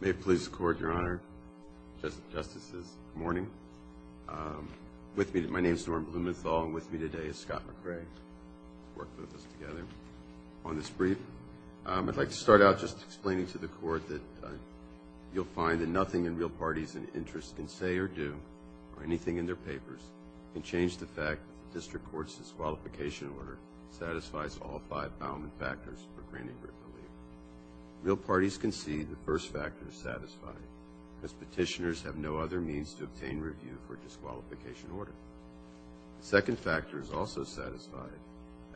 May it please the Court, Your Honor, Justices, good morning. My name is Norm Blumenthal, and with me today is Scott McRae, who worked with us together on this brief. I'd like to start out just explaining to the Court that you'll find that nothing in real parties' interests can say or do, or anything in their papers, can change the fact that the District Court's disqualification order satisfies all five bound factors for granting written relief. Real parties concede the first factor is satisfied, as petitioners have no other means to obtain review for a disqualification order. The second factor is also satisfied,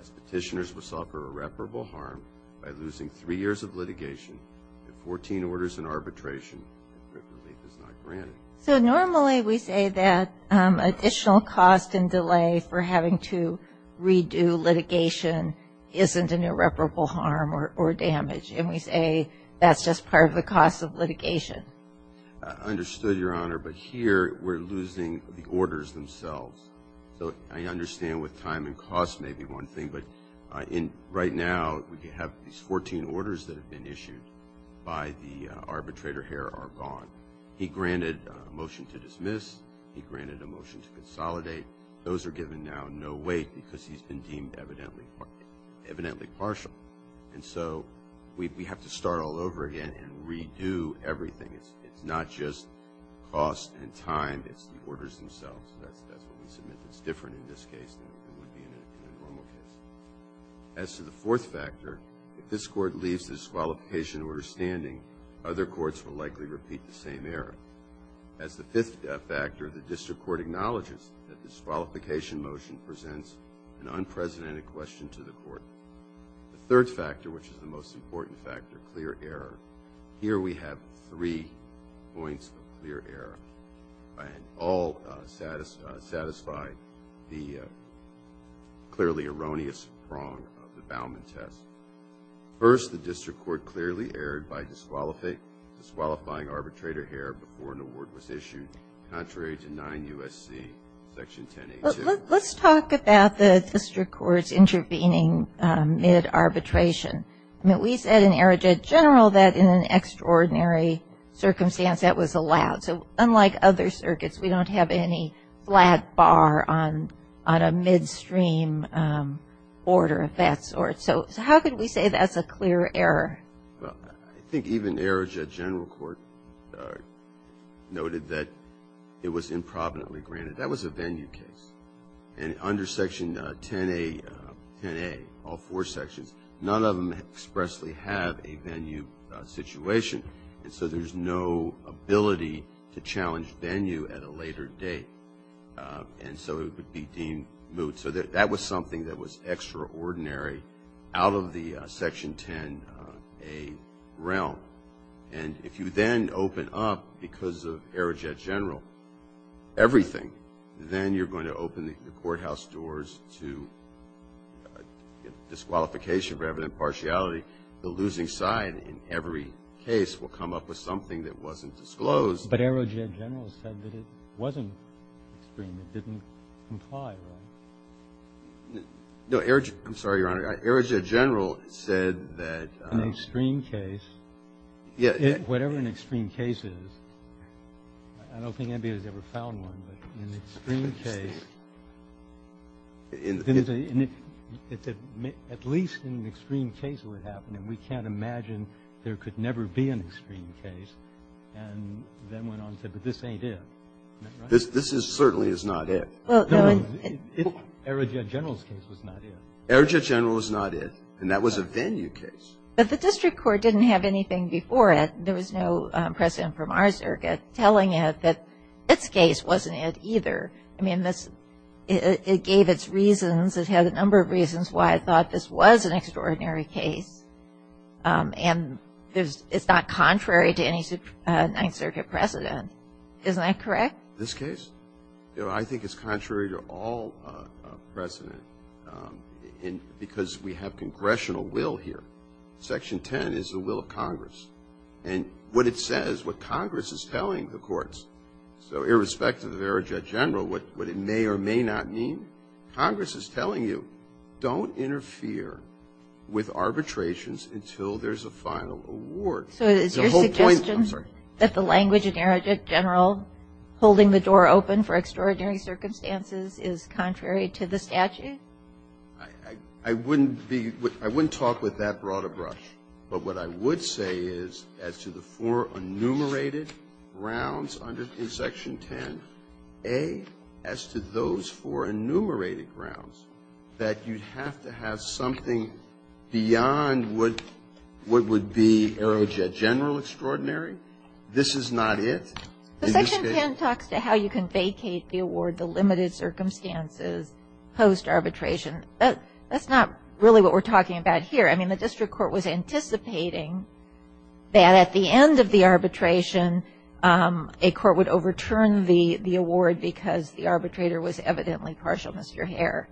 as petitioners will suffer irreparable harm by losing three years of litigation, and 14 orders in arbitration if written relief is not granted. So normally we say that additional cost and delay for having to redo litigation isn't an irreparable harm or damage, and we say that's just part of the cost of litigation. I understood, Your Honor, but here we're losing the orders themselves. So I understand with time and cost may be one thing, but right now we have these 14 orders that have been issued by the arbitrator here are gone. He granted a motion to dismiss, he granted a motion to consolidate. Those are given now no weight because he's been deemed evidently partial. And so we have to start all over again and redo everything. It's not just cost and time, it's the orders themselves. That's what we submit that's different in this case than it would be in a normal case. As to the fourth factor, if this court leaves the disqualification order standing, other courts will likely repeat the same error. As the fifth factor, the district court acknowledges that this disqualification motion presents an unprecedented question to the court. The third factor, which is the most important factor, clear error. Here we have three points of clear error. All satisfy the clearly erroneous prong of the Bauman test. First, the district court clearly erred by disqualifying arbitrator error before an award was issued, contrary to 9 U.S.C. Section 1082. Let's talk about the district court's intervening mid-arbitration. I mean, we said in Aerojet General that in an extraordinary circumstance that was allowed. So unlike other circuits, we don't have any flat bar on a midstream order of that sort. So how can we say that's a clear error? Well, I think even Aerojet General Court noted that it was improvidently granted. That was a venue case. And under Section 10A, all four sections, none of them expressly have a venue situation. And so there's no ability to challenge venue at a later date. And so it would be deemed moot. So that was something that was extraordinary out of the Section 10A realm. And if you then open up, because of Aerojet General, everything, then you're going to open the courthouse doors to disqualification rather than impartiality. The losing side in every case will come up with something that wasn't disclosed. But Aerojet General said that it wasn't extreme. It didn't comply, right? No. I'm sorry, Your Honor. I'm sorry. Aerojet General said that an extreme case, whatever an extreme case is, I don't think anybody's ever found one, but an extreme case, at least an extreme case would happen. And we can't imagine there could never be an extreme case. And then went on to say, but this ain't it. Isn't that right? This certainly is not it. No, Aerojet General's case was not it. Aerojet General was not it. And that was a venue case. But the district court didn't have anything before it. There was no precedent from our circuit telling it that its case wasn't it either. I mean, it gave its reasons. It had a number of reasons why it thought this was an extraordinary case. And it's not contrary to any Ninth Circuit precedent. Isn't that correct? This case? I think it's contrary to all precedent because we have congressional will here. Section 10 is the will of Congress. And what it says, what Congress is telling the courts, so irrespective of Aerojet General, what it may or may not mean, Congress is telling you don't interfere with arbitrations until there's a final award. So is your suggestion that the language in Aerojet General holding the door open for extraordinary circumstances is contrary to the statute? I wouldn't be – I wouldn't talk with that broad a brush. But what I would say is as to the four enumerated grounds in Section 10, A, as to those four enumerated grounds, that you'd have to have something beyond what would be Aerojet General extraordinary. This is not it. Section 10 talks to how you can vacate the award, the limited circumstances post-arbitration. That's not really what we're talking about here. I mean, the district court was anticipating that at the end of the arbitration a court would overturn the award because the arbitrator was evidently partial, Mr. Herr.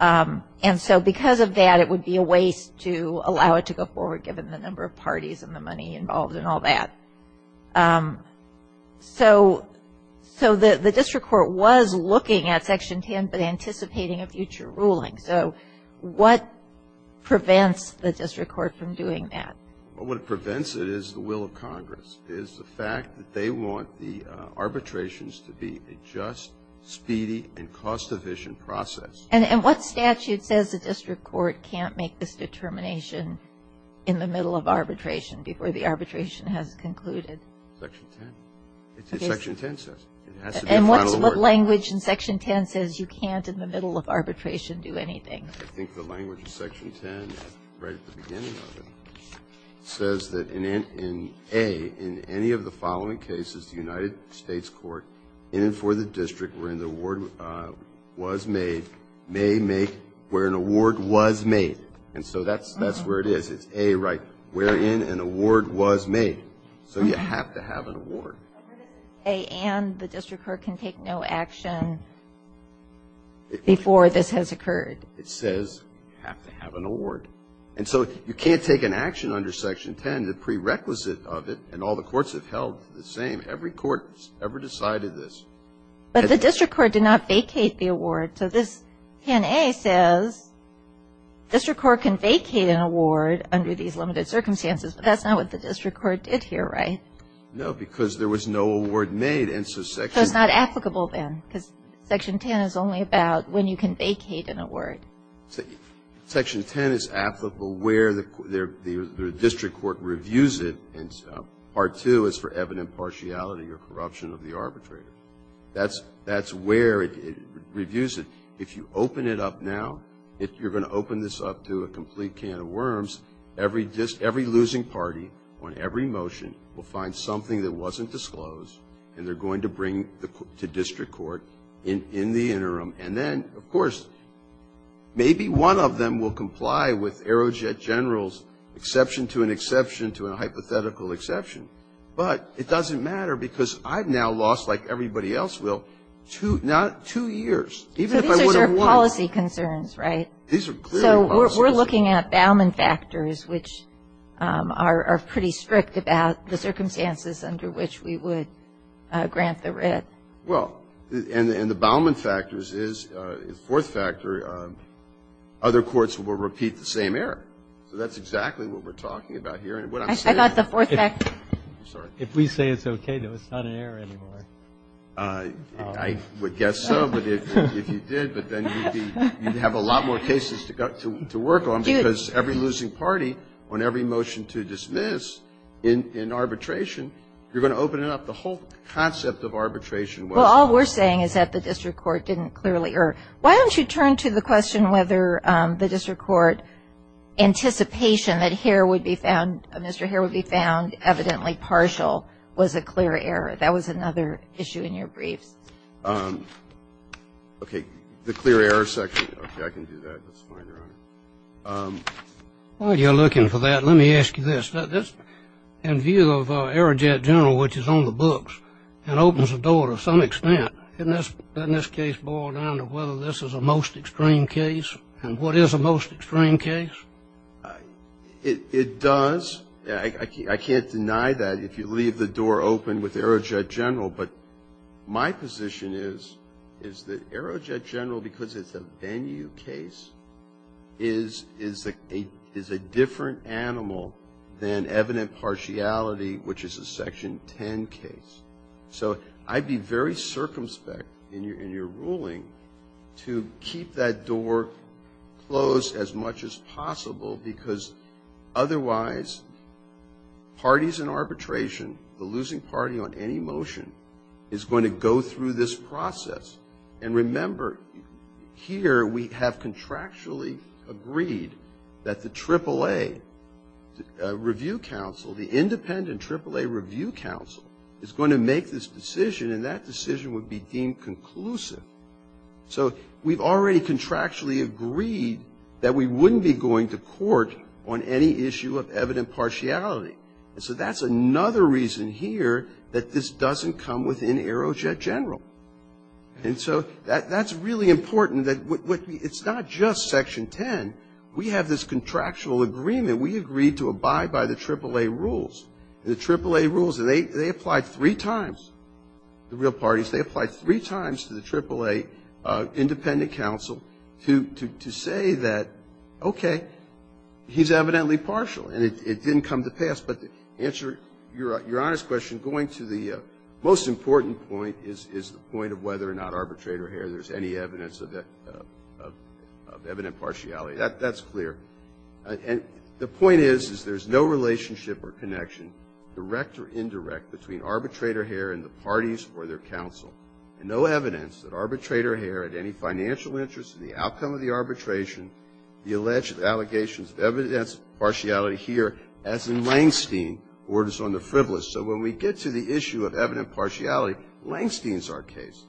And so because of that, it would be a waste to allow it to go forward given the number of parties and the money involved and all that. So the district court was looking at Section 10 but anticipating a future ruling. So what prevents the district court from doing that? Well, what prevents it is the will of Congress, is the fact that they want the arbitrations to be a just, speedy, and cost-efficient process. And what statute says the district court can't make this determination in the middle of arbitration before the arbitration has concluded? Section 10. It's what Section 10 says. It has to be a final award. And what language in Section 10 says you can't in the middle of arbitration do anything? I think the language in Section 10, right at the beginning of it, says that in A, in any of the following cases, the United States court, in and for the district wherein the award was made, may make where an award was made. And so that's where it is. It's A, right, wherein an award was made. So you have to have an award. But what if it's A and the district court can take no action before this has occurred? It says you have to have an award. And so you can't take an action under Section 10, the prerequisite of it, and all the courts have held the same. Every court has ever decided this. But the district court did not vacate the award. So this in A says district court can vacate an award under these limited circumstances, but that's not what the district court did here, right? No, because there was no award made. So it's not applicable then because Section 10 is only about when you can vacate an award. So Section 10 is applicable where the district court reviews it, and Part 2 is for evident partiality or corruption of the arbitrator. That's where it reviews it. If you open it up now, if you're going to open this up to a complete can of worms, every losing party on every motion will find something that wasn't disclosed, and they're going to bring it to district court in the interim. And then, of course, maybe one of them will comply with Aerojet General's exception to an exception to a hypothetical exception. But it doesn't matter because I've now lost, like everybody else will, two years. So these are sort of policy concerns, right? These are clearly policy concerns. So we're looking at Bauman factors, which are pretty strict about the circumstances under which we would grant the writ. Well, and the Bauman factors is a fourth factor. Other courts will repeat the same error. So that's exactly what we're talking about here. And what I'm saying is that if we say it's okay, it's not an error anymore. I would guess so if you did, but then you'd have a lot more cases to work on because every losing party on every motion to dismiss in arbitration, you're going to open it up. The whole concept of arbitration was not. Well, all we're saying is that the district court didn't clearly err. Why don't you turn to the question whether the district court anticipation that Herr would be found, Mr. Herr would be found evidently partial was a clear error. That was another issue in your briefs. Okay. The clear error section. Okay. I can do that. That's fine, Your Honor. While you're looking for that, let me ask you this. In view of Aerojet General, which is on the books and opens the door to some extent, doesn't this case boil down to whether this is a most extreme case and what is a most extreme case? It does. I can't deny that if you leave the door open with Aerojet General, but my position is that Aerojet General, because it's a venue case, is a different animal than evident partiality, which is a Section 10 case. So I'd be very circumspect in your ruling to keep that door closed as much as possible, because otherwise, parties in arbitration, the losing party on any motion, is going to go through this process. And remember, here we have contractually agreed that the AAA Review Council, the independent AAA Review Council, is going to make this decision, and that decision would be deemed conclusive. So we've already contractually agreed that we wouldn't be going to court on any issue of evident partiality. And so that's another reason here that this doesn't come within Aerojet General. And so that's really important. It's not just Section 10. We have this contractual agreement. We agreed to abide by the AAA rules. The AAA rules, they apply three times, the real parties. They apply three times to the AAA independent council to say that, okay, he's evidently partial, and it didn't come to pass. But to answer Your Honor's question, going to the most important point is the point of whether or not arbitrator hair, there's any evidence of evident partiality. That's clear. And the point is, is there's no relationship or connection, direct or indirect, between arbitrator hair and the parties or their counsel, and no evidence that arbitrator hair had any financial interest in the outcome of the arbitration, the alleged allegations of evidence of partiality here, as in Langstein, Orders on the Frivolous. So when we get to the issue of evident partiality, Langstein's our case.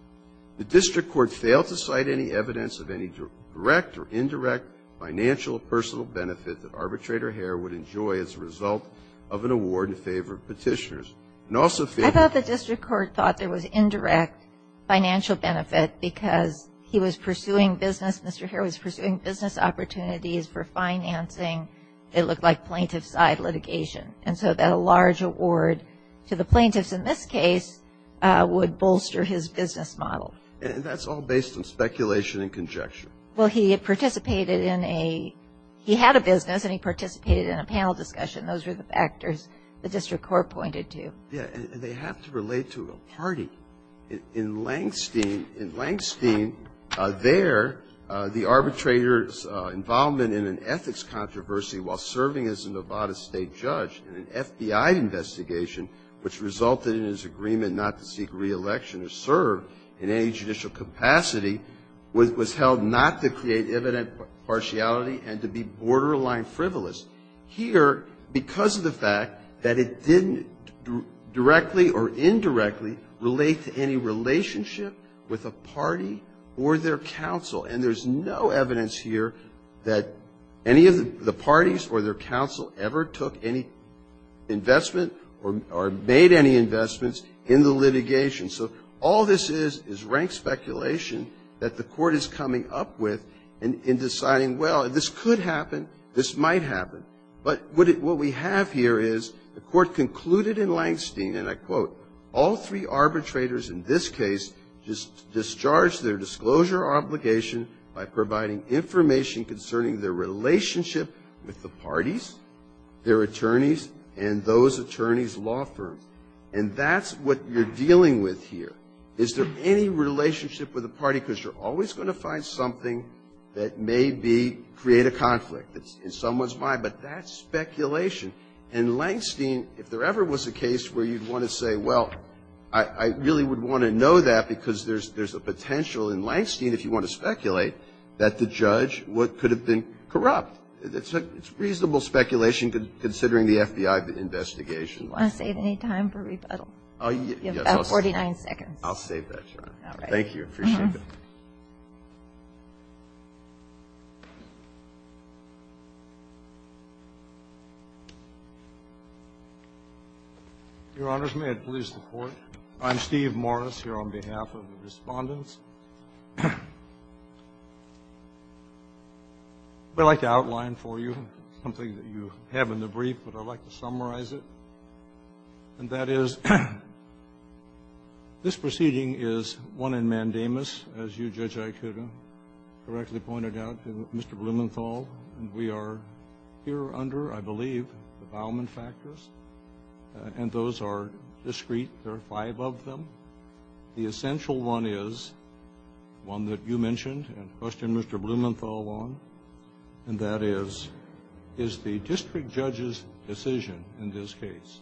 The district court failed to cite any evidence of any direct or indirect financial personal benefit that arbitrator hair would enjoy as a result of an award in favor of Petitioners. And also failed to cite any evidence of any direct or indirect financial personal benefit that arbitrator hair would enjoy as a result of an award in favor of Petitioners. So the point here is, is that if there's a particular case, and it's not a case where the plaintiff has the expertise for financing, it looked like plaintiff's side litigation. And so that a large award to the plaintiffs in this case would bolster his business model. And that's all based on speculation and conjecture. Well, he had participated in a — he had a business, and he participated in a panel discussion. Those were the factors the district court pointed to. Yeah, and they have to relate to a party. In Langstein, in Langstein, there, the arbitrator's involvement in an ethics controversy while serving as a Nevada state judge in an FBI investigation, which resulted in his agreement not to seek reelection or serve in any judicial capacity, was held not to create evident partiality and to be borderline frivolous. Here, because of the fact that it didn't directly or indirectly relate to any relationship with a party or their counsel, and there's no evidence here that any of the parties or their counsel ever took any investment or made any investments in the litigation. So all this is, is rank speculation that the court is coming up with in deciding, well, this could happen. This might happen. But what we have here is the court concluded in Langstein, and I quote, all three arbitrators in this case discharged their disclosure obligation by providing information concerning their relationship with the parties, their attorneys, and those attorneys' law firms. And that's what you're dealing with here. Is there any relationship with a party, because you're always going to find something that may be, create a conflict in someone's mind, but that's speculation. In Langstein, if there ever was a case where you'd want to say, well, I really would want to know that because there's a potential in Langstein, if you want to speculate, that the judge could have been corrupt. It's reasonable speculation considering the FBI investigation. Do you want to save any time for rebuttal? Oh, yes. You have about 49 seconds. I'll save that time. All right. Thank you. I appreciate it. Your Honors, may I please report? I'm Steve Morris here on behalf of the Respondents. I'd like to outline for you something that you have in the brief, but I'd like to summarize And that is, this proceeding is one in mandamus, as you, Judge Aikuda, correctly pointed out to Mr. Blumenthal. And we are here under, I believe, the Bauman factors, and those are discrete. There are five of them. The essential one is one that you mentioned and questioned Mr. Blumenthal on, and that is, is the district judge's decision, in this case,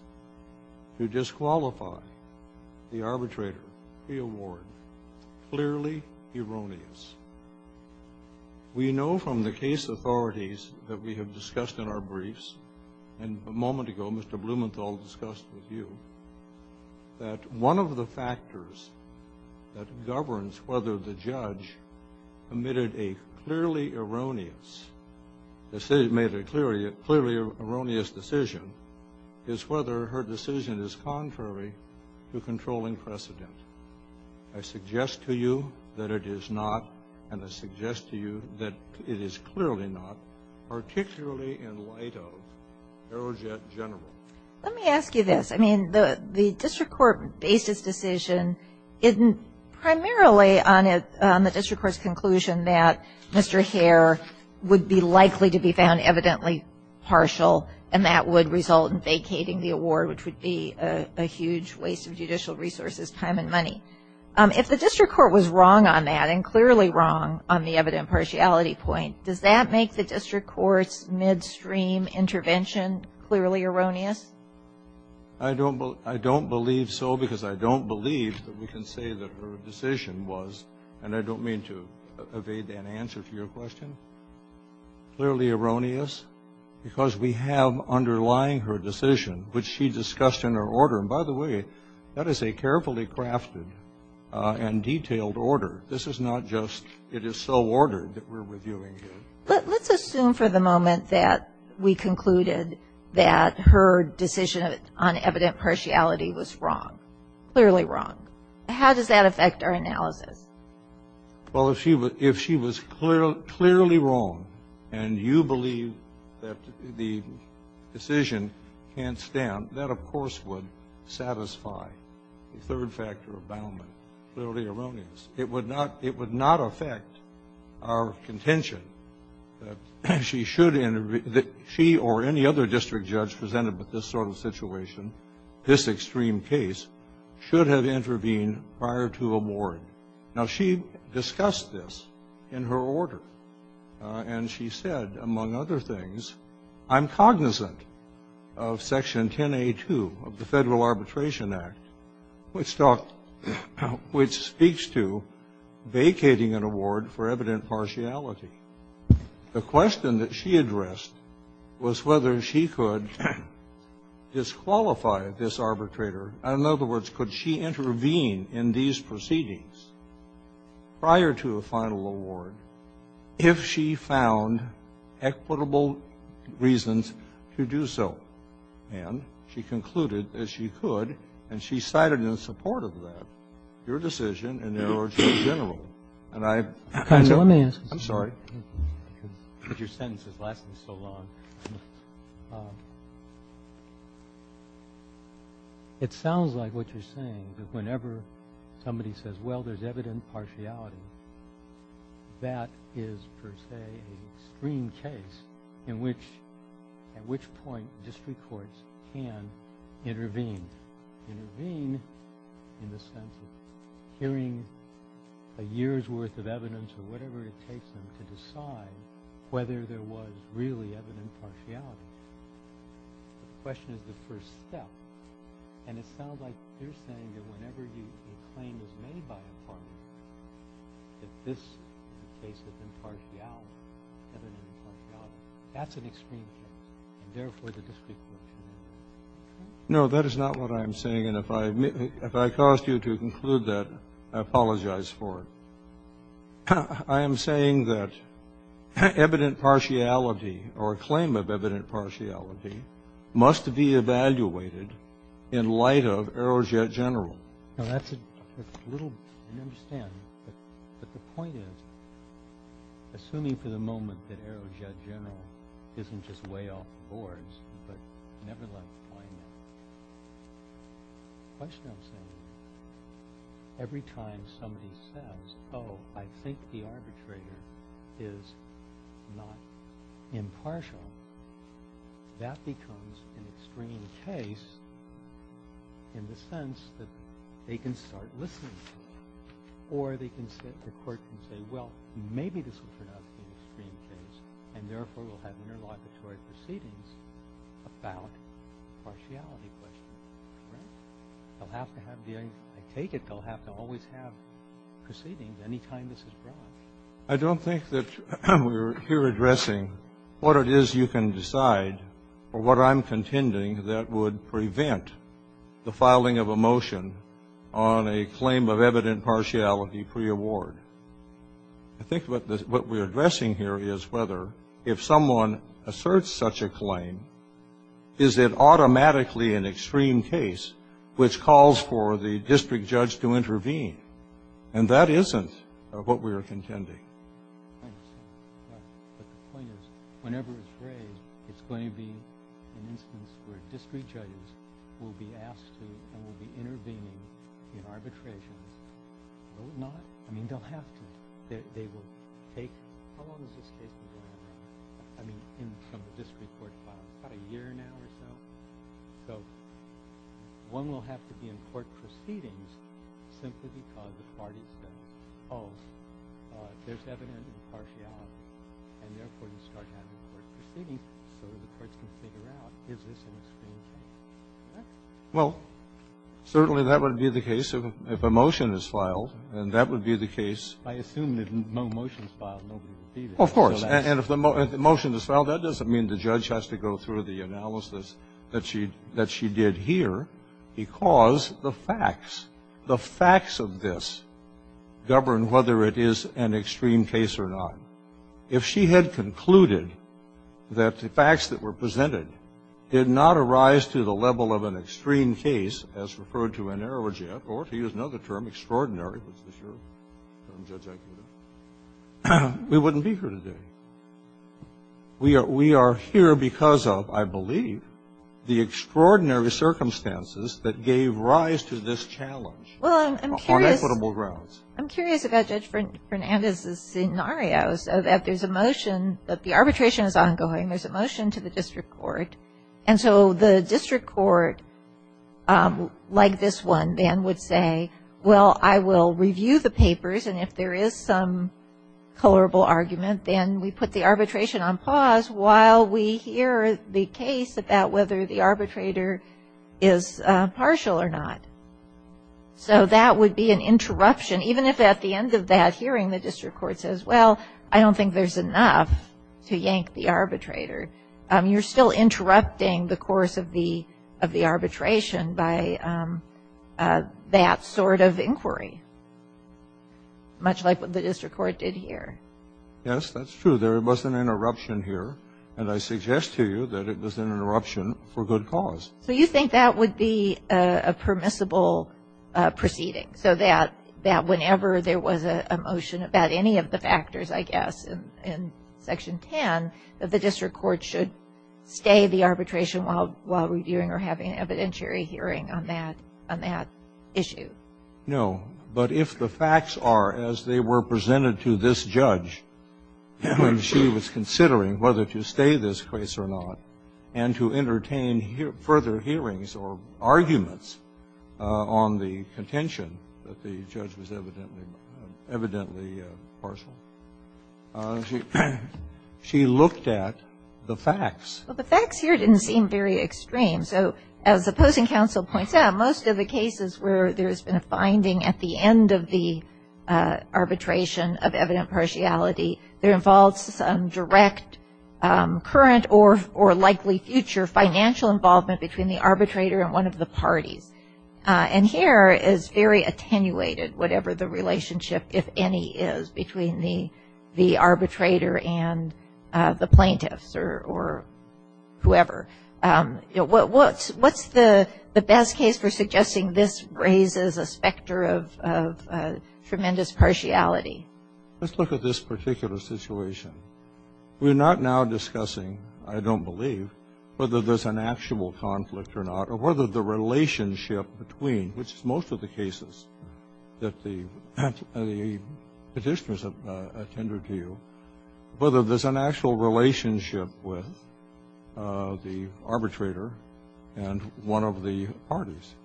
to disqualify the arbitrator pre-award clearly erroneous? We know from the case authorities that we have discussed in our briefs, and a moment ago Mr. Blumenthal discussed with you, that one of the factors that governs whether the judge made a clearly erroneous decision is whether her decision is contrary to controlling precedent. I suggest to you that it is not, and I suggest to you that it is clearly not, particularly in light of Aerojet General. Let me ask you this. I mean, the district court based its decision primarily on the district court's conclusion that Mr. Hare would be likely to be found evidently partial, and that would result in vacating the award, which would be a huge waste of judicial resources, time, and money. If the district court was wrong on that, and clearly wrong on the evident partiality point, does that make the district court's midstream intervention clearly erroneous? I don't believe so, because I don't believe that we can say that her decision was, and I don't mean to evade an answer to your question, clearly erroneous, because we have underlying her decision, which she discussed in her order. And by the way, that is a carefully crafted and detailed order. This is not just it is so ordered that we're reviewing it. Let's assume for the moment that we concluded that her decision on evident partiality was wrong, clearly wrong. How does that affect our analysis? Well, if she was clearly wrong, and you believe that the decision can't stand, that, of course, would satisfy the third factor of Bauman, clearly erroneous. It would not affect our contention that she should intervene, that she or any other district judge presented with this sort of situation, this extreme case, should have intervened prior to award. Now, she discussed this in her order, and she said, among other things, I'm cognizant Section 10A2 of the Federal Arbitration Act, which speaks to vacating an award for evident partiality. The question that she addressed was whether she could disqualify this arbitrator. In other words, could she intervene in these proceedings prior to a final award if she found equitable reasons to do so? And she concluded that she could, and she cited in support of that your decision in the order in general. And I kind of ---- Roberts, I'm sorry. Your sentence is lasting so long. It sounds like what you're saying, that whenever somebody says, well, there's evident partiality, that is, per se, an extreme case in which at which point district courts can intervene, intervene in the sense of hearing a year's worth of evidence or whatever it takes them to decide whether there was really evident partiality. The question is the first step. And it sounds like you're saying that whenever a claim is made by a party that this case has been partiality, evident partiality, that's an extreme case, and therefore the district court should intervene. No, that is not what I am saying. And if I caused you to conclude that, I apologize for it. I am saying that evident partiality or a claim of evident partiality must be evaluated in light of Aerojet General. No, that's a little ---- I don't understand. But the point is, assuming for the moment that Aerojet General isn't just way off the boards, but never left the plane, the question I'm saying, every time somebody says, oh, I think the arbitrator is not impartial, that becomes an extreme case in the sense that they can start listening to it. Or the court can say, well, maybe this will turn out to be an extreme case, and therefore we'll have interlocutory proceedings about the partiality question. Correct? They'll have to have the ---- I take it they'll have to always have proceedings any time this is brought. I don't think that we're here addressing what it is you can decide or what I'm contending that would prevent the filing of a motion on a claim of evident partiality preaward. I think what we're addressing here is whether, if someone asserts such a claim, is it which calls for the district judge to intervene. And that isn't what we are contending. I understand. But the point is, whenever it's raised, it's going to be an instance where district judges will be asked to and will be intervening in arbitrations. Will it not? I mean, they'll have to. They will take ---- how long is this case? I mean, from the district court file, about a year now or so. So one will have to be in court proceedings simply because the party says, oh, there's evident impartiality, and therefore you start having court proceedings so the courts can figure out, is this an extreme case? Correct? Well, certainly that would be the case if a motion is filed, and that would be the case. I assume that if no motion is filed, nobody would be there. Well, of course. And if the motion is filed, that doesn't mean the judge has to go through the analysis that she did here, because the facts, the facts of this govern whether it is an extreme case or not. If she had concluded that the facts that were presented did not arise to the level of an extreme case, as referred to in Ehrlich, or to use another term, extraordinary, is this your term, Judge? We wouldn't be here today. We are here because of, I believe, the extraordinary circumstances that gave rise to this challenge. Well, I'm curious. On equitable grounds. I'm curious about Judge Fernandez's scenarios of if there's a motion that the arbitration is ongoing, there's a motion to the district court, and so the district court, like this one, then, would say, well, I will review the papers, and if there is some colorable argument, then we put the arbitration on pause while we hear the case about whether the arbitrator is partial or not. So that would be an interruption, even if at the end of that hearing the district court says, well, I don't think there's enough to yank the arbitrator. You're still interrupting the course of the arbitration by that sort of inquiry, much like what the district court did here. Yes, that's true. There was an interruption here, and I suggest to you that it was an interruption for good cause. So you think that would be a permissible proceeding, so that whenever there was a motion about any of the factors, I guess, in Section 10, that the district court should stay the arbitration while reviewing or having an evidentiary hearing on that issue? No. But if the facts are as they were presented to this judge when she was considering whether to stay this case or not, and to entertain further hearings or arguments on the contention that the judge was evidently partial, she looked at the facts. Well, the facts here didn't seem very extreme. So as the opposing counsel points out, most of the cases where there's been a finding at the end of the arbitration of evident partiality, there involves some direct current or likely future financial involvement between the arbitrator and one of the parties. And here is very attenuated whatever the relationship, if any, is between the arbitrator and the plaintiffs or whoever. What's the best case for suggesting this raises a specter of tremendous partiality? Let's look at this particular situation. We're not now discussing, I don't believe, whether there's an actual conflict or not relationship between, which is most of the cases that the Petitioners have attended to, whether there's an actual relationship with the arbitrator and one of the parties.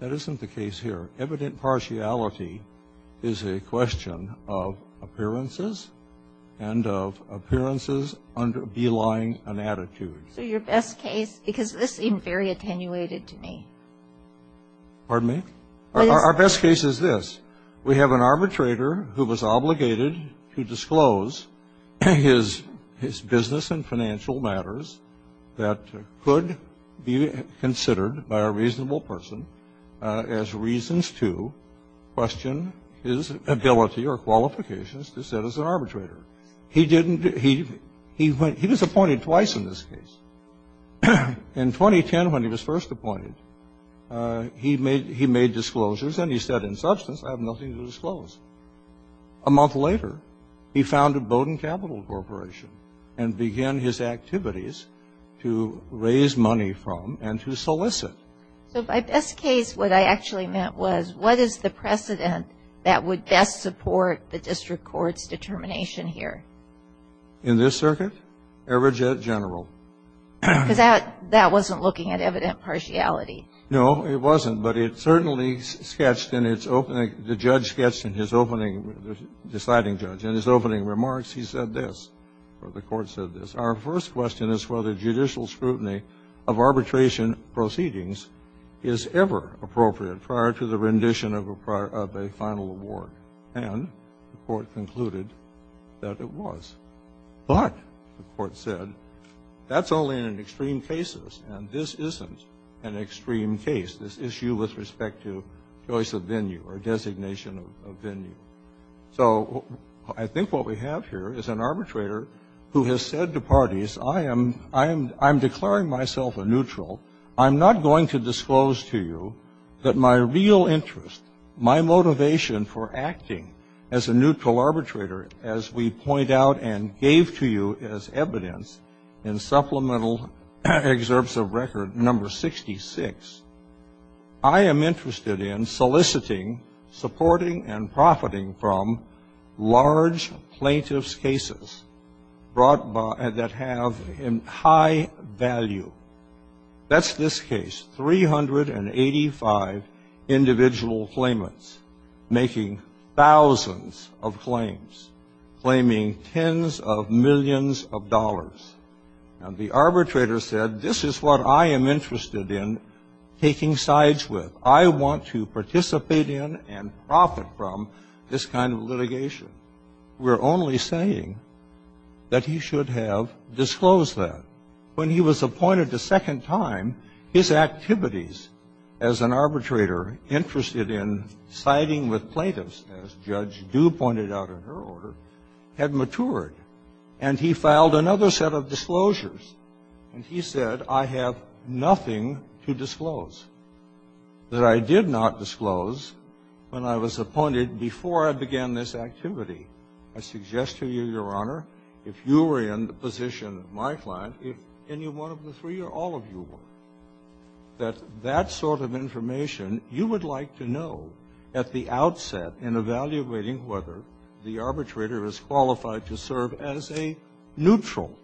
That isn't the case here. Evident partiality is a question of appearances and of appearances under belying an attitude. So your best case, because this seemed very attenuated to me. Pardon me? Our best case is this. We have an arbitrator who was obligated to disclose his business and financial matters that could be considered by a reasonable person as reasons to question his ability or qualifications to sit as an arbitrator. He was appointed twice in this case. In 2010, when he was first appointed, he made disclosures and he said in substance, I have nothing to disclose. A month later, he founded Bowdoin Capital Corporation and began his activities to raise money from and to solicit. So by best case, what I actually meant was what is the precedent that would best support the In this circuit? Everget General. Because that wasn't looking at evident partiality. No, it wasn't. But it certainly sketched in its opening. The judge sketched in his opening, the deciding judge, in his opening remarks, he said this, or the Court said this. Our first question is whether judicial scrutiny of arbitration proceedings is ever appropriate prior to the rendition of a final award. And the Court concluded that it was. But, the Court said, that's only in extreme cases. And this isn't an extreme case, this issue with respect to choice of venue or designation of venue. So I think what we have here is an arbitrator who has said to parties, I am declaring myself a neutral. I'm not going to disclose to you that my real interest, my motivation for acting as a neutral arbitrator, as we point out and gave to you as evidence in supplemental excerpts of record number 66, I am interested in soliciting, supporting, and profiting from large plaintiffs' cases that have high value. That's this case, 385 individual claimants making thousands of claims, claiming tens of millions of dollars. And the arbitrator said, this is what I am interested in taking sides with. I want to participate in and profit from this kind of litigation. We're only saying that he should have disclosed that. When he was appointed a second time, his activities as an arbitrator interested in siding with plaintiffs, as Judge Dew pointed out in her order, had matured. And he filed another set of disclosures. That I did not disclose when I was appointed before I began this activity. I suggest to you, Your Honor, if you were in the position of my client, if any one of the three or all of you were, that that sort of information you would like to know at the outset in evaluating whether the arbitrator is qualified to serve as a neutral.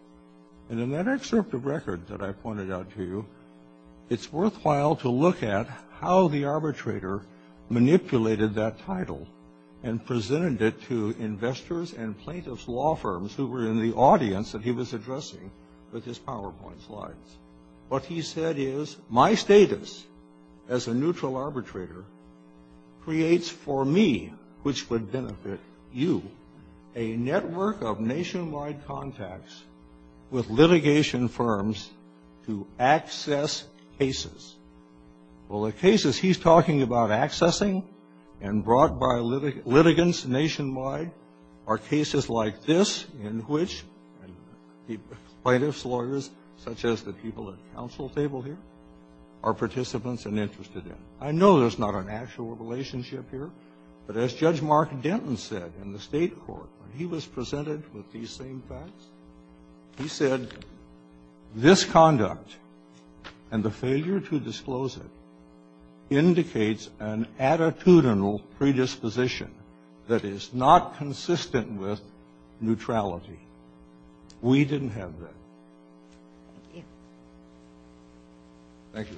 And in that excerpt of record that I pointed out to you, it's worthwhile to look at how the arbitrator manipulated that title and presented it to investors and plaintiffs' law firms who were in the audience that he was addressing with his PowerPoint slides. What he said is, my status as a neutral arbitrator creates for me, which would benefit you, a network of nationwide contacts with litigation firms to access cases. Well, the cases he's talking about accessing and brought by litigants nationwide are cases like this in which plaintiffs' lawyers, such as the people at the council table here, are participants and interested in. I know there's not an actual relationship here, but as Judge Mark Denton said in the State court when he was presented with these same facts, he said, this conduct and the failure to disclose it indicates an attitudinal predisposition that is not consistent with neutrality. We didn't have that. Thank you. Thank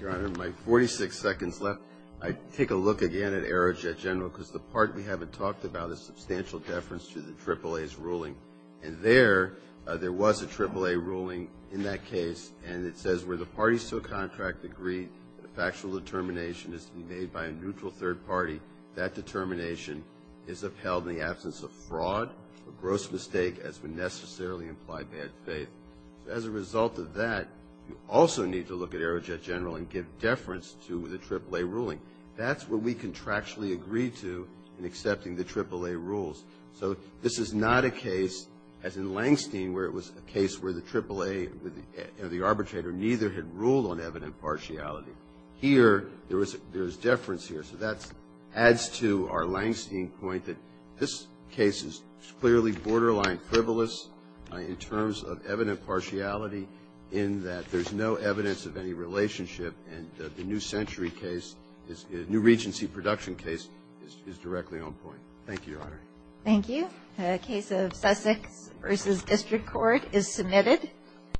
you, Your Honor. My 46 seconds left. I'd take a look again at Arrow Jet General because the part we haven't talked about is substantial deference to the AAA's ruling. And there, there was a AAA ruling in that case, and it says where the parties to a contract agree the factual determination is to be made by a neutral third party, that determination is upheld in the absence of fraud or gross mistake as would necessarily imply bad faith. As a result of that, you also need to look at Arrow Jet General and give deference to the AAA ruling. That's what we contractually agree to in accepting the AAA rules. So this is not a case, as in Langstein, where it was a case where the AAA or the arbitrator neither had ruled on evident partiality. Here, there is deference here. So that adds to our Langstein point that this case is clearly borderline frivolous in terms of evident partiality in that there's no evidence of any relationship, and the New Century case, New Regency production case, is directly on point. Thank you, Your Honor. Thank you. The case of Sussex v. District Court is submitted.